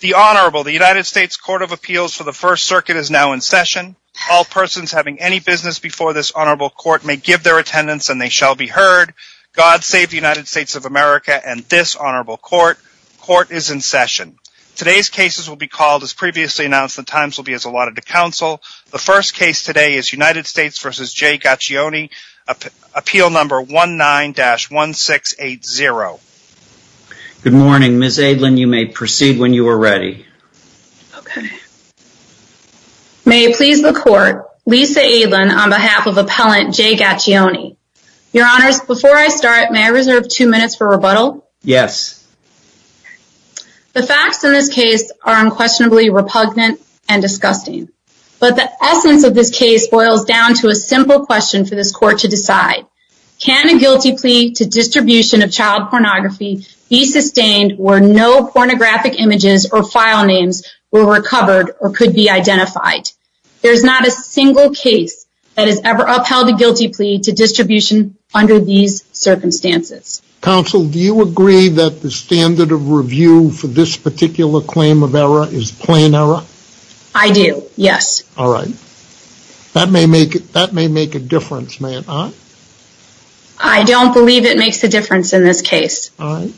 The Honorable, the United States Court of Appeals for the First Circuit is now in session. All persons having any business before this Honorable Court may give their attendance and they shall be heard. God save the United States of America and this Honorable Court. Court is in session. Today's cases will be called as previously announced. The times will be allotted to counsel. The first case today is United States v. J. Gaccione, appeal number 19-1680. Good morning. Ms. Aidlin, you may proceed when you are ready. May it please the Court, Lisa Aidlin on behalf of Appellant J. Gaccione. Your Honors, before I start, may I reserve two minutes for rebuttal? Yes. The facts in this case are unquestionably repugnant and disgusting, but the essence of this case boils down to a simple question for this Court to decide. Can a guilty plea to distribution of child pornography be sustained where no pornographic images or file names were recovered or could be identified? There is not a single case that has ever upheld a guilty plea to distribution under these circumstances. Counsel, do you agree that the standard of review for this particular claim of error is plain error? I do, yes. All right. That may make a difference, may it not? I don't believe it makes a difference in this case. All right.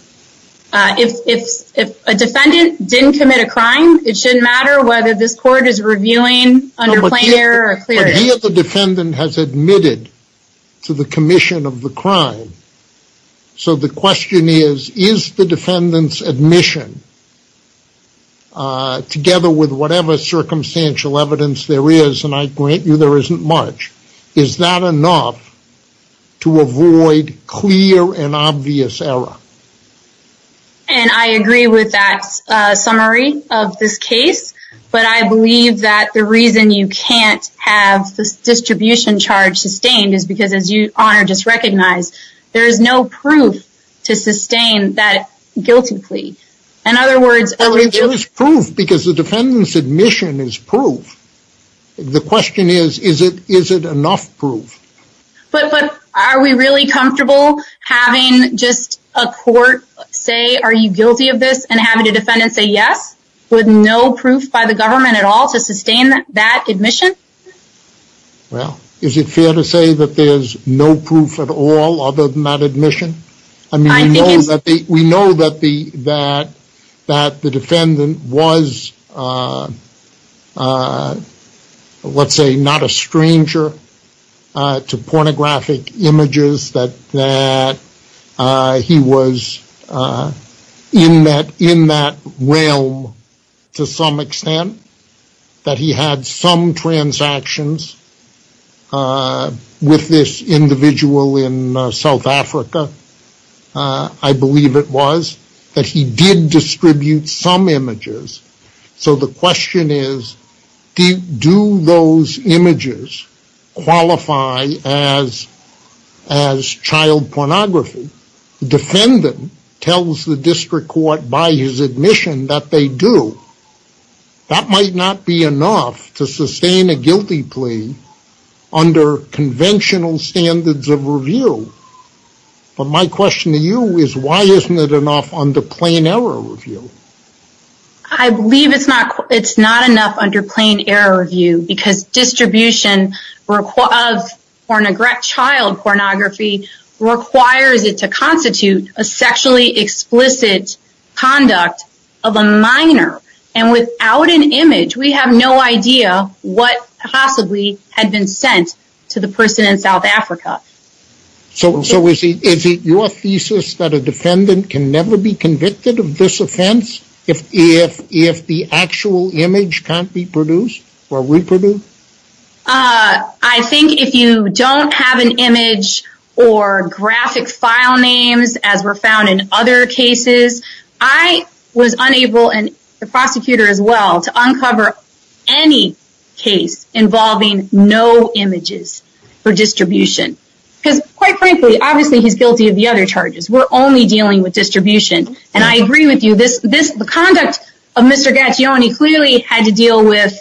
If a defendant didn't commit a crime, it shouldn't matter whether this Court is reviewing under plain error or clear error. But he or the defendant has admitted to the commission of the crime, so the question is, is the defendant's admission, together with whatever circumstantial evidence there is, and I grant you there isn't much, is that enough to avoid clear and obvious error? And I agree with that summary of this case, but I believe that the reason you can't have the distribution charge sustained is because, as you, Honor, just recognized, there is no proof to sustain that guilty plea. In other words, there is proof because the defendant's admission is proof. The question is, is it enough proof? But are we really comfortable having just a court say, are you guilty of this, and having a defendant say yes, with no proof by the government at all to sustain that admission? Well, is it fair to say that there's no proof at all other than that admission? I mean, we know that the defendant was, let's say, not a stranger to pornographic images, that he was in that realm to some extent, that he had some transactions with this individual in South Africa, I believe it was, that he did distribute some images. So the question is, do those images qualify as child pornography? The defendant tells the under conventional standards of review, but my question to you is, why isn't it enough under plain error review? I believe it's not enough under plain error review because distribution of child pornography requires it to constitute a sexually explicit conduct of a minor, and without an image, we have no idea what possibly had been sent to the person in South Africa. So is it your thesis that a defendant can never be convicted of this offense if the actual image can't be produced or reproduced? I think if you don't have an image or graphic file names, as were found in other cases, I was unable, and the prosecutor as well, to uncover any case involving no images for distribution, because quite frankly, obviously he's guilty of the other charges. We're only dealing with distribution, and I agree with you, the conduct of Mr. Gaccioni clearly had to deal with,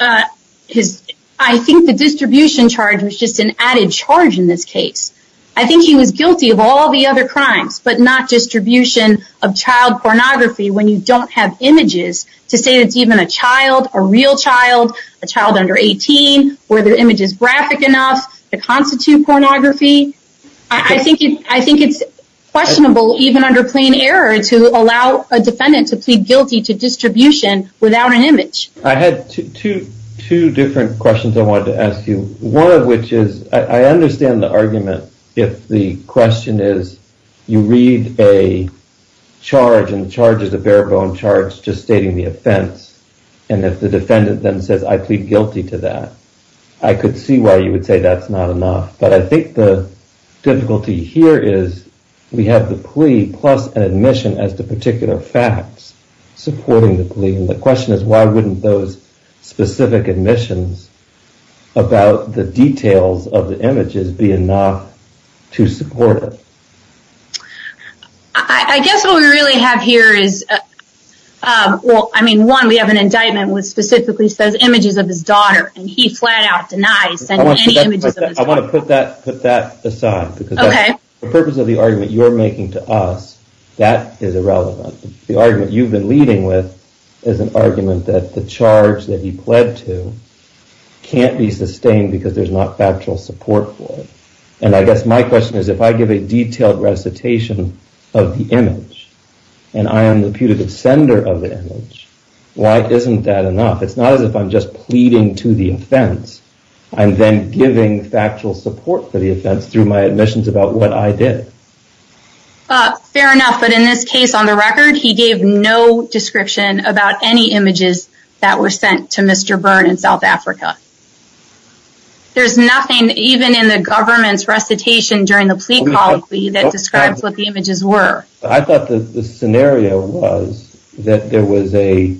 I think the distribution charge was just an added charge in this case. I think he was guilty of all the other crimes, but not distribution of child pornography when you don't have images to say that it's even a child, a real child, a child under 18, where the image is graphic enough to constitute pornography. I think it's questionable even under plain error to allow a defendant to plead guilty to distribution without an image. I had two different questions I wanted to ask you. One of which is, I understand the argument if the question is you read a charge and the charge is a bare bone charge just stating the offense, and if the defendant then says I plead guilty to that, I could see why you would say that's not enough. But I think the difficulty here is we have the plea plus an admission as to particular facts supporting the plea, and the question is why wouldn't those specific admissions about the details of the images be enough to support it? I guess what we really have here is, well I mean one, we have an indictment which specifically says images of his daughter, and he flat out denies sending any images of his daughter. I want to put that put that aside, because the purpose of the argument you're making to us, that is irrelevant. The argument you've been leading with is an argument that the charge that he pled to can't be sustained because there's not factual support for it, and I guess my question is if I give a detailed recitation of the image, and I am the putative sender of the image, why isn't that enough? It's not as if I'm just pleading to the offense, I'm then giving factual support for the offense through my admissions about what I did. Fair enough, but in this case on the record, he gave no description about any images that were Mr. Byrne in South Africa. There's nothing even in the government's recitation during the plea colloquy that describes what the images were. I thought the scenario was that there was a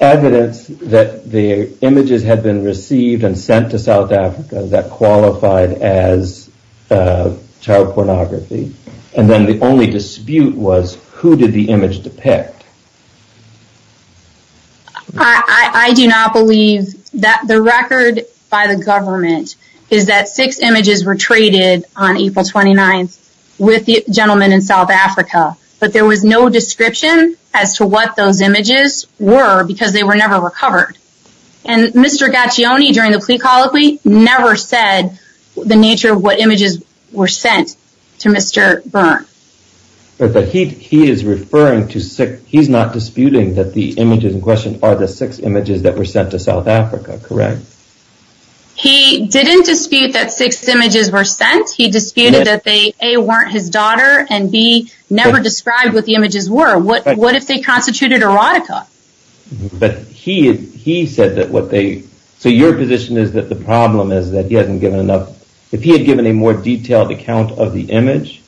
evidence that the images had been received and sent to South Africa that qualified as child pornography, and then the only dispute was who did the image depict? I do not believe that the record by the government is that six images were traded on April 29th with the gentleman in South Africa, but there was no description as to what those images were because they were never recovered, and Mr. Gaccioni during the plea colloquy never said the nature of what images were sent to Mr. Byrne. But he is referring to six, he's not disputing that the images in question are the six images that were sent to South Africa, correct? He didn't dispute that six images were sent, he disputed that they A, weren't his daughter, and B, never described what the images were. What if they constituted erotica? But he said that what they, so your position is that the problem is that he hasn't given enough, if he had given a more detailed account of the image,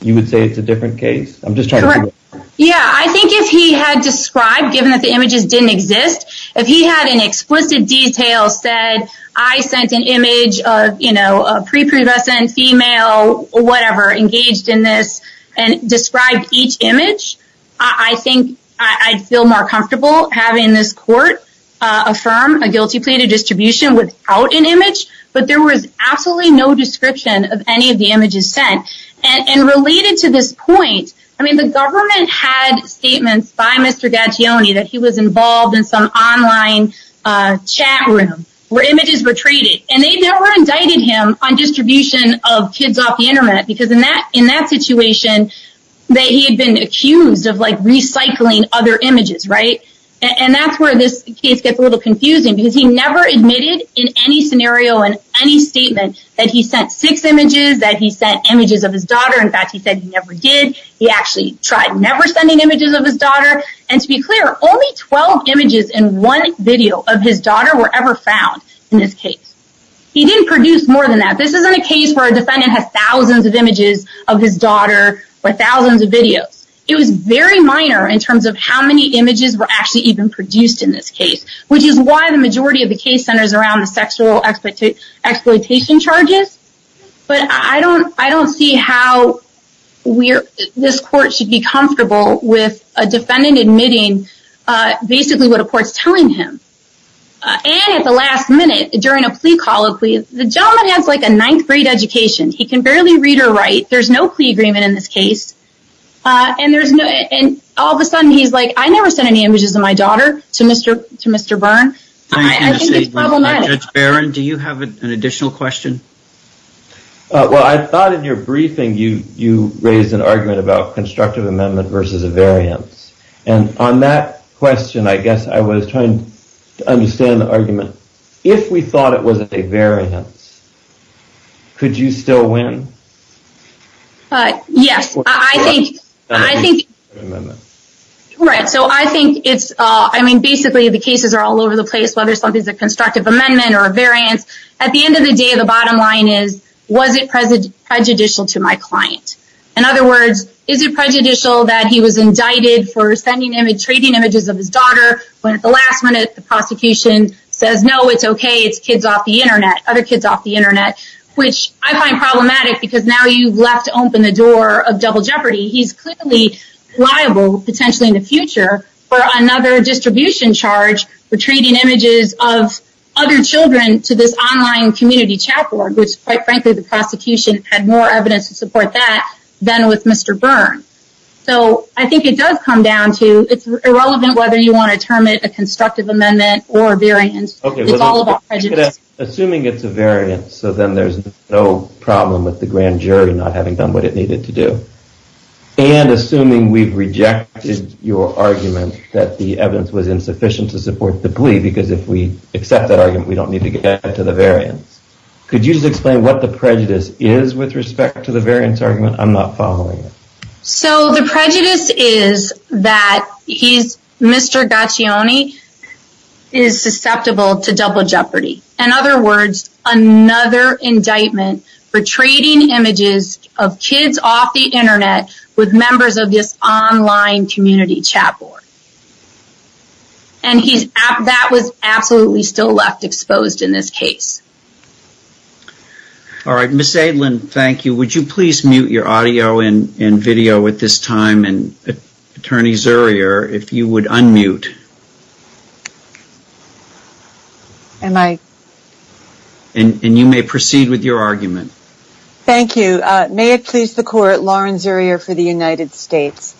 you would say it's a different case? Correct. Yeah, I think if he had described, given that the images didn't exist, if he had in explicit detail said, I sent an image of a prepubescent female, whatever, engaged in this, and described each image, I think I'd feel more comfortable having this court affirm a guilty plea to distribution without an image, but there was absolutely no point, I mean the government had statements by Mr. Gaccioni that he was involved in some online chat room, where images were traded, and they never indicted him on distribution of kids off the internet, because in that, in that situation, that he had been accused of like recycling other images, right? And that's where this case gets a little confusing, because he never admitted in any scenario, in any statement, that he sent six images, that he sent images of his daughter, in fact, he said he never did, he actually tried never sending images of his daughter, and to be clear, only 12 images in one video of his daughter were ever found in this case. He didn't produce more than that, this isn't a case where a defendant has thousands of images of his daughter, or thousands of videos, it was very minor in terms of how many images were actually even produced in this case, which is why the majority of the case centers around the sexual exploitation charges, but I don't, I don't see how we're, this court should be comfortable with a defendant admitting basically what a court's telling him. And at the last minute, during a plea call, the gentleman has like a ninth grade education, he can barely read or write, there's no plea agreement in this case, and there's no, and all of a sudden he's like, I never sent any images of my daughter to Mr. Byrne, I think it's problematic. Judge Barron, do you have an additional question? Well, I thought in your briefing you raised an argument about constructive amendment versus a variance, and on that question, I guess I was trying to understand the argument, if we thought it was a variance, could you still win? Yes, I think, I think, right, so I think it's, I mean, basically the cases are all over the place, whether something's a constructive amendment or a variance, at the end of the day, the bottom line is, was it prejudicial to my client? In other words, is it prejudicial that he was indicted for sending images, trading images of his daughter, when at the last minute, the prosecution says, no, it's okay, it's kids off the internet, other kids off the internet, which I find problematic, because now you've left open the door of double jeopardy, he's clearly liable, potentially in the future, for another distribution charge, for trading images of other children to this online community chat board, which, quite frankly, the prosecution had more evidence to support that, than with Mr. Byrne. So, I think it does come down to, it's irrelevant whether you want to term it a constructive amendment or a variance, it's all about prejudice. Okay, assuming it's a variance, so then there's no problem with the grand jury not having done what it needed to do. And assuming we've rejected your argument, that the evidence was insufficient to support the plea, because if we accept that argument, we don't need to get to the variance. Could you just explain what the prejudice is, with respect to the variance argument? I'm not following it. So, the prejudice is that he's, Mr. Gaccioni, is susceptible to double jeopardy. In other words, another indictment for trading images of kids off the internet, with members of this online community chat board. And he's, that was absolutely still left exposed in this case. All right, Ms. Adelin, thank you. Would you please mute your audio and video at this time, and Attorney Zurier, if you would unmute. Am I? And you may proceed with your argument. Thank you. May it please the court, Lauren Zurier for the United States.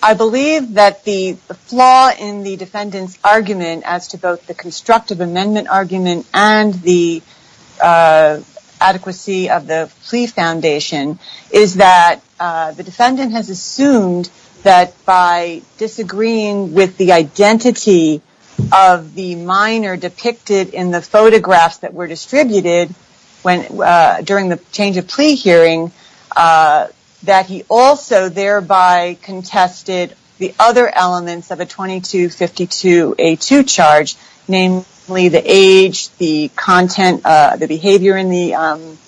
I believe that the flaw in the defendant's argument, as to both the constructive amendment argument and the adequacy of the plea foundation, is that the defendant has assumed that by disagreeing with the identity of the minor depicted in the photographs that were distributed during the change of plea hearing, that he also thereby contested the other elements of a 2252 charge, namely the age, the content, the behavior in the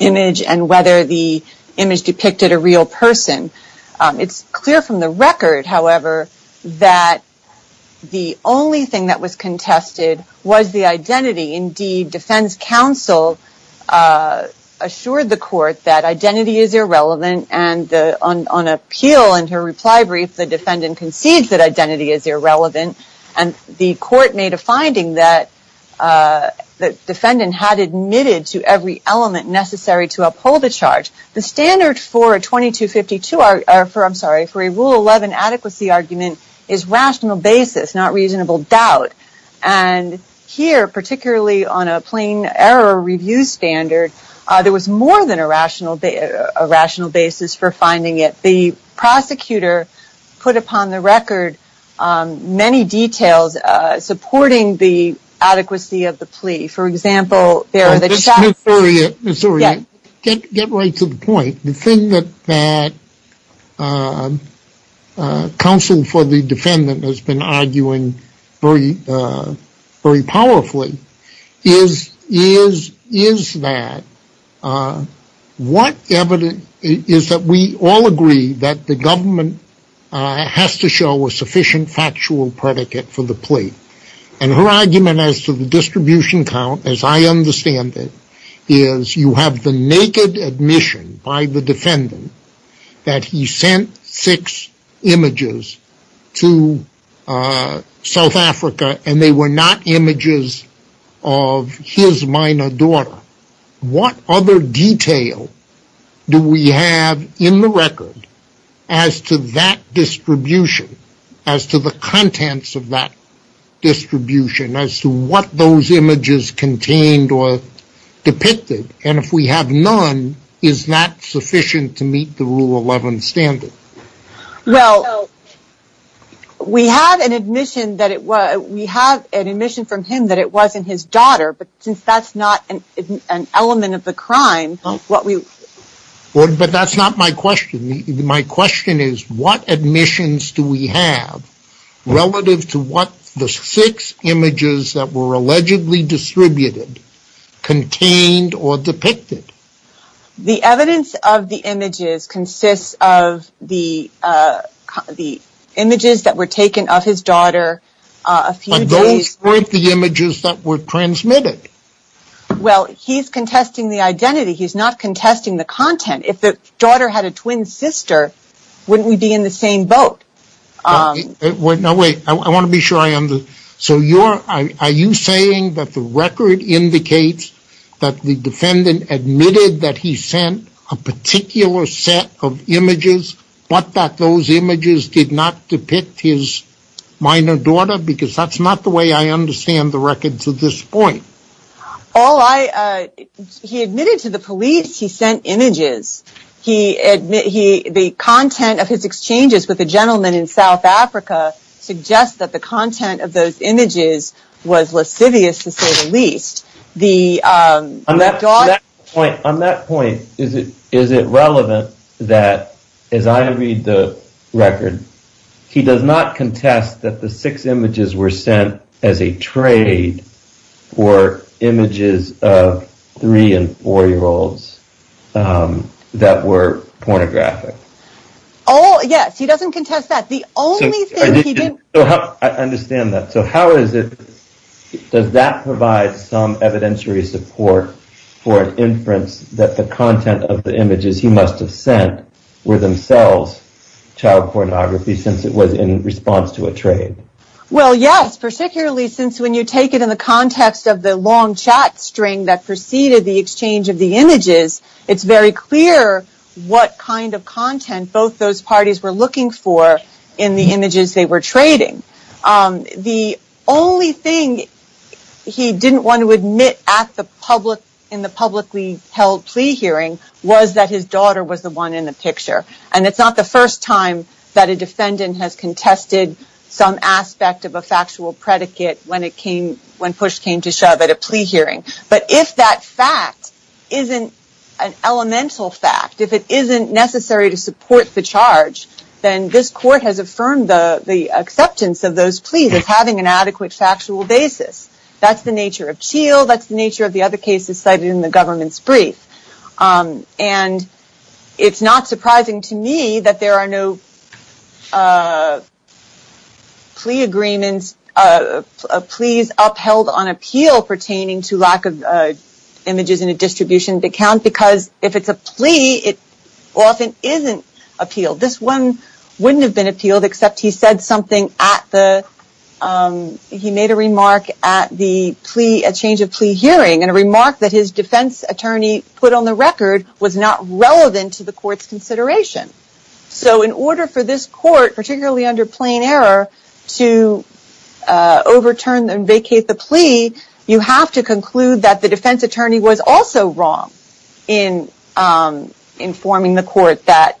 image, and whether the image depicted a real person. It's clear from the record, however, that the only thing that was contested was the identity. Indeed, defense counsel assured the court that identity is irrelevant, and on appeal, in her reply brief, the defendant concedes that identity is irrelevant, and the court made a finding that the defendant had admitted to every element necessary to uphold the charge. The standard for a rule 11 adequacy argument is rational basis, not reasonable doubt. And here, particularly on a plain error review standard, there was more than a rational basis for finding it. The prosecutor put upon the record many details supporting the adequacy of the plea. For example, there are the... Ms. Uriah, get right to the point. The thing that counsel for the defendant has been arguing very powerfully is that we all agree that the government has to show a sufficient factual predicate for the plea. And her argument as to the distribution count, as I understand it, is you have the naked admission by the defendant that he sent six images to South Africa and they were not images of his minor daughter. What other detail do we have in the record as to that distribution, as to the contents of that distribution, as to what those images contained or depicted? And if we have none, is that sufficient to meet the rule 11 standard? Well, we have an admission that it was, we have an admission from him that it wasn't his daughter, but since that's not an element of the crime, what we... But that's not my question. My question is what admissions do we have relative to what the six images that were allegedly distributed contained or depicted? The evidence of the images consists of the images that were taken of his daughter a few days... But those weren't the images that were transmitted. Well, he's contesting the identity. He's not contesting the content. If the daughter had a twin sister, wouldn't we be in the same boat? Wait, no, wait. I want to be sure I understand. So you're, are you saying that the record indicates that the defendant admitted that he sent a particular set of images, but that those images did not depict his minor daughter? Because that's not the way I understand the record to this point. All I, he admitted to the police, he sent images. He admitted he, the content of his exchanges with the gentleman in South Africa suggests that the content of those images was lascivious to say the least. The... On that point, is it relevant that as I read the record, he does not contest that the six that were pornographic? Oh, yes. He doesn't contest that. The only thing he didn't... I understand that. So how is it, does that provide some evidentiary support for an inference that the content of the images he must have sent were themselves child pornography since it was in response to a trade? Well, yes, particularly since when you take it in the context of the long chat string that preceded the exchange of the images, it's very clear what kind of content both those parties were looking for in the images they were trading. The only thing he didn't want to admit at the public, in the publicly held plea hearing was that his daughter was the one in the picture. And it's not the first time that a defendant has contested some aspect of a factual predicate when it came, when push came to shove at a plea hearing. But if that fact isn't an elemental fact, if it isn't necessary to support the charge, then this court has affirmed the acceptance of those pleas as having an adequate factual basis. That's the nature of Cheal. That's the nature of the other cases cited in the government's brief. And it's not surprising to me that there are no plea agreements, pleas upheld on appeal pertaining to lack of images in a distribution account because if it's a plea, it often isn't appealed. This one wouldn't have been appealed except he said something at the, he made a remark at the plea, a change of plea hearing and a remark that his defense attorney put on the record was not relevant to the court's consideration. So in order for this court, particularly under plain error, to overturn and vacate the plea, you have to conclude that the defense attorney was also wrong in informing the court that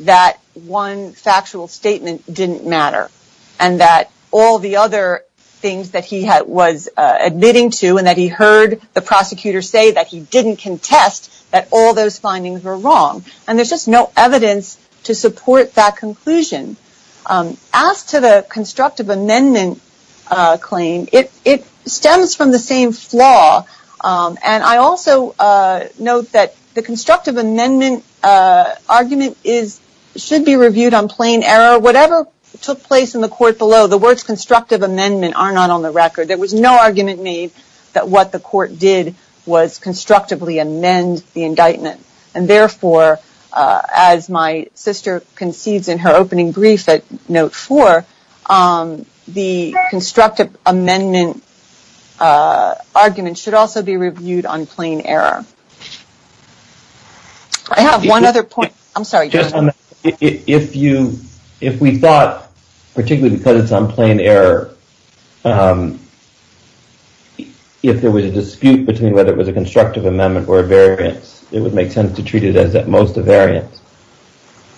that one factual statement didn't matter and that all the other things that he was admitting to and that he heard the prosecutor say that he didn't contest, that all those findings were wrong. And there's just no evidence to support that conclusion. As to the constructive amendment claim, it stems from the same flaw. And I also note that the constructive amendment argument is, should be reviewed on plain error. Whatever took place in the court below, the words constructive amendment are not on the record. There was no argument made that what the court did was constructively amend the as my sister concedes in her opening brief at note four, the constructive amendment argument should also be reviewed on plain error. I have one other point. I'm sorry. Just on that, if you, if we thought, particularly because it's on plain error, if there was a dispute between whether it was a constructive amendment or a variance, it would make sense to treat it as at most a variance.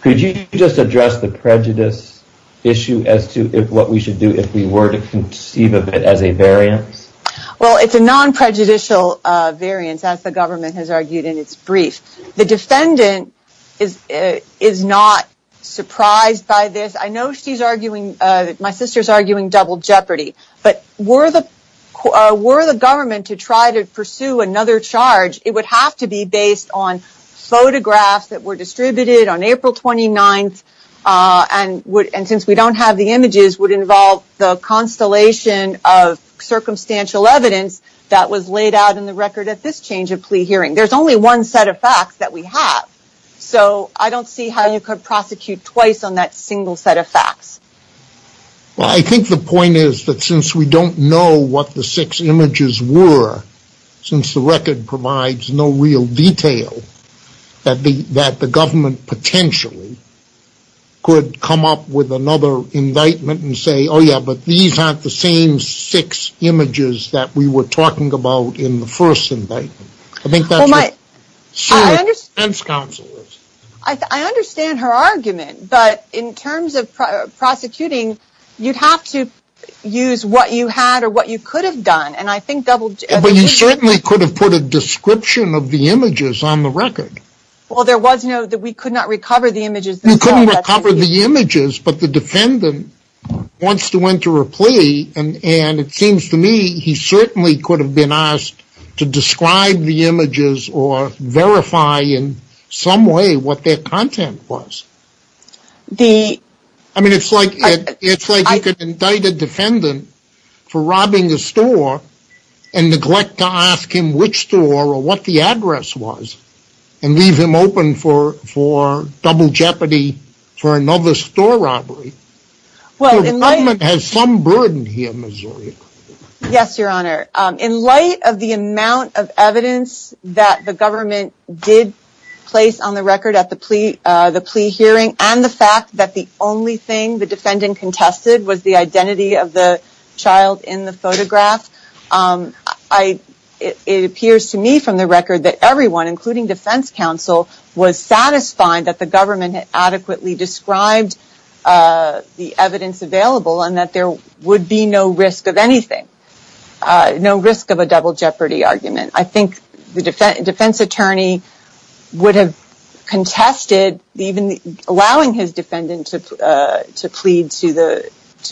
Could you just address the prejudice issue as to what we should do if we were to conceive of it as a variance? Well, it's a non-prejudicial variance as the government has argued in its brief. The defendant is not surprised by this. I know she's arguing, my sister's arguing double jeopardy, but were the photographs that were distributed on April 29th. And would, and since we don't have the images would involve the constellation of circumstantial evidence that was laid out in the record at this change of plea hearing, there's only one set of facts that we have. So I don't see how you could prosecute twice on that single set of facts. Well, I think the point is that since we don't know what the six images were, since the record provides no real detail, that the, that the government potentially could come up with another indictment and say, oh yeah, but these aren't the same six images that we were talking about in the first indictment. I think that's what, I understand her argument, but in terms of prosecuting, you'd have to use what you had or what you could have done. And I think double jeopardy. But you certainly could have put a description of the images on the record. Well, there was no, that we could not recover the images. You couldn't recover the images, but the defendant wants to enter a plea. And it seems to me he certainly could have been asked to describe the images or verify in some way what their content was. I mean, it's like you could indict a defendant for robbing a store and neglect to ask him which store or what the address was and leave him open for double jeopardy for another store robbery. The government has some burden here in Missouri. Yes, your honor. In light of the amount of evidence that the government did place on the record at the plea hearing and the fact that the only thing the defendant contested was the identity of the child in the photograph, it appears to me from the record that everyone, including defense counsel, was satisfied that the government had adequately described the evidence available and that there would be no risk of anything. No risk of a double jeopardy argument. I think the defense attorney would have contested even allowing his defendant to plead to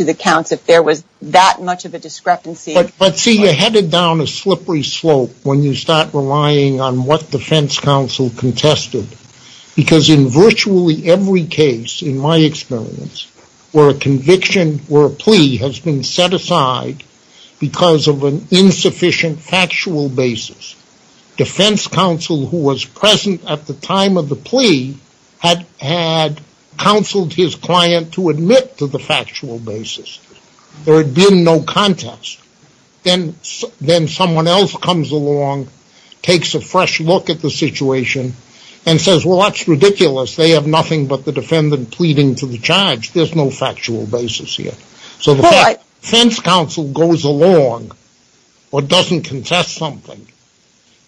the counts if there was that much of a discrepancy. But see, you're headed down a slippery slope when you start relying on what defense counsel contested. Because in virtually every case, in my experience, where a conviction or a plea has set aside because of an insufficient factual basis, defense counsel who was present at the time of the plea had counseled his client to admit to the factual basis. There had been no contest. Then someone else comes along, takes a fresh look at the situation, and says, well, that's ridiculous. They have nothing but the defendant pleading to the charge. There's no factual basis here. So the fact that defense counsel goes along or doesn't contest something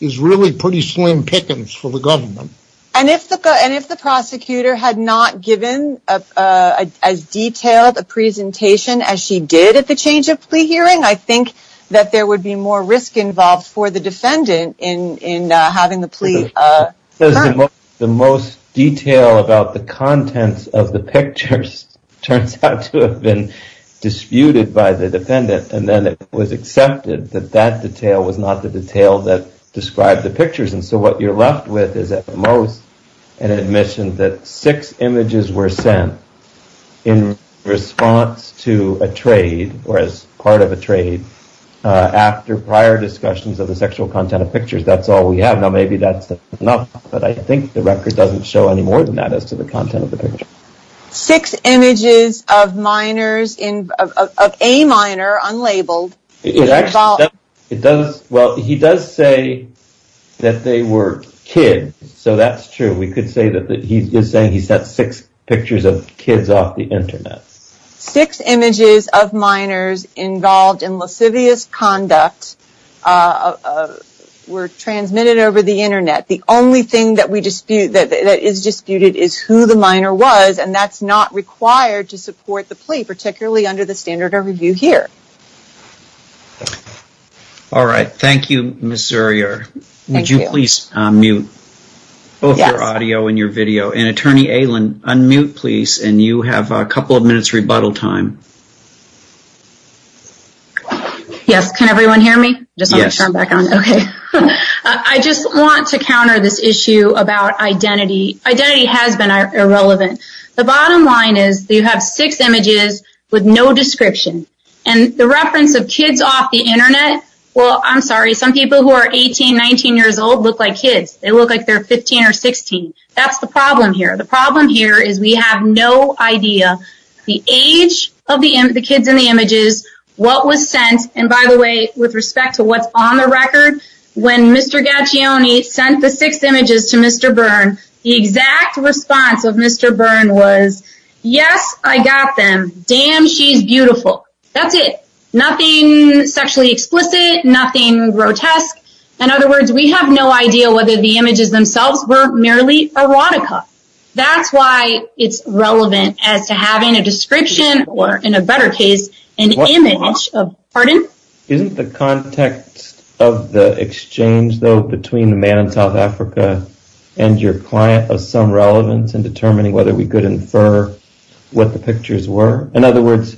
is really pretty slim pickings for the government. And if the prosecutor had not given as detailed a presentation as she did at the change of plea hearing, I think that there would be more risk involved for the defendant in having the plea confirmed. The most detail about the contents of the pictures turns out to have been disputed by the defendant. And then it was accepted that that detail was not the detail that described the pictures. And so what you're left with is at most an admission that six images were sent in response to a trade or as part of a trade after prior discussions of the sexual content of pictures. That's all we have. Now, maybe that's enough. But I think the record doesn't show any more than that as to the content of the picture. Six images of minors of a minor unlabeled. It does. Well, he does say that they were kids. So that's true. We could say that he is saying he sent six pictures of kids off the Internet. Six images of minors involved in lascivious conduct were transmitted over the Internet. And that's not required to support the plea, particularly under the standard of review here. All right. Thank you, Ms. Zuercher. Would you please mute both your audio and your video? And Attorney Aylan, unmute, please. And you have a couple of minutes rebuttal time. Yes. Can everyone hear me? I just want to counter this issue about identity. Identity has been irrelevant. The bottom line is you have six images with no description. And the reference of kids off the Internet, well, I'm sorry, some people who are 18, 19 years old look like kids. They look like they're 15 or 16. That's the problem here. The problem here is we have no idea the age of the kids in the images, what was sent. And by the way, with respect to what's on the record, when Mr. Gaccioni sent the six images to Mr. Byrne, the exact response of Mr. Byrne was, yes, I got them. Damn, she's beautiful. That's it. Nothing sexually explicit, nothing grotesque. In other words, we have no idea whether the images themselves were merely erotica. That's why it's relevant as to having a description or, in a better case, an image. Pardon? Isn't the context of the exchange, though, between the man in South Africa and your client of some relevance in determining whether we could infer what the pictures were? In other words,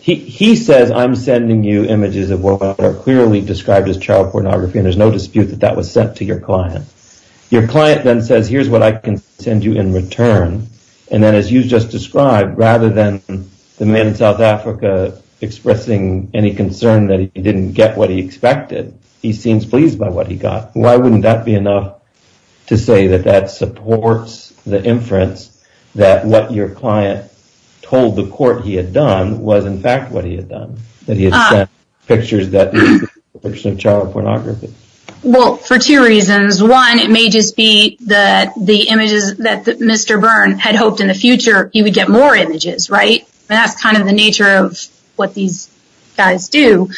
he says, I'm sending you images of what are clearly described as child pornography, and there's no dispute that that was sent to your client. Your client then says, here's what I can send you in return. And then as you just described, rather than the man in South Africa expressing any concern that he didn't get what he expected, he seems pleased by what he got. Why wouldn't that be enough to say that that supports the inference that what your client told the court he had done was, in fact, what he had done, that he had sent pictures that were child pornography? Well, for two reasons. One, it may just be that the images that Mr. Byrne had hoped in the future, he would get more images, right? And that's kind of the nature of what these guys do.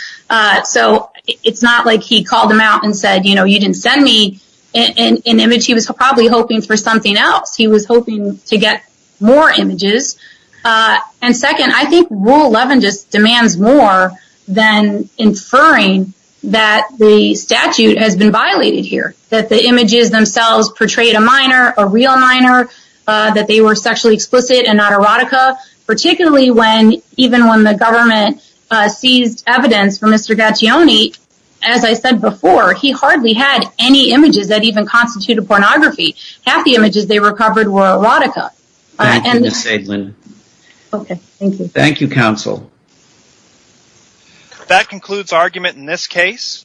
So it's not like he called them out and said, you know, you didn't send me an image. He was probably hoping for something else. He was hoping to get more images. And second, I think Rule 11 just demands more than inferring that the statute has been violated here, that the images themselves portrayed a minor, a real minor, that they were sexually explicit and not erotica, particularly when even when the government seized evidence for Mr. Gaccioni, as I said before, he hardly had any images that even constituted pornography. Half the images they recovered were erotica. Thank you, counsel. That concludes argument in this case.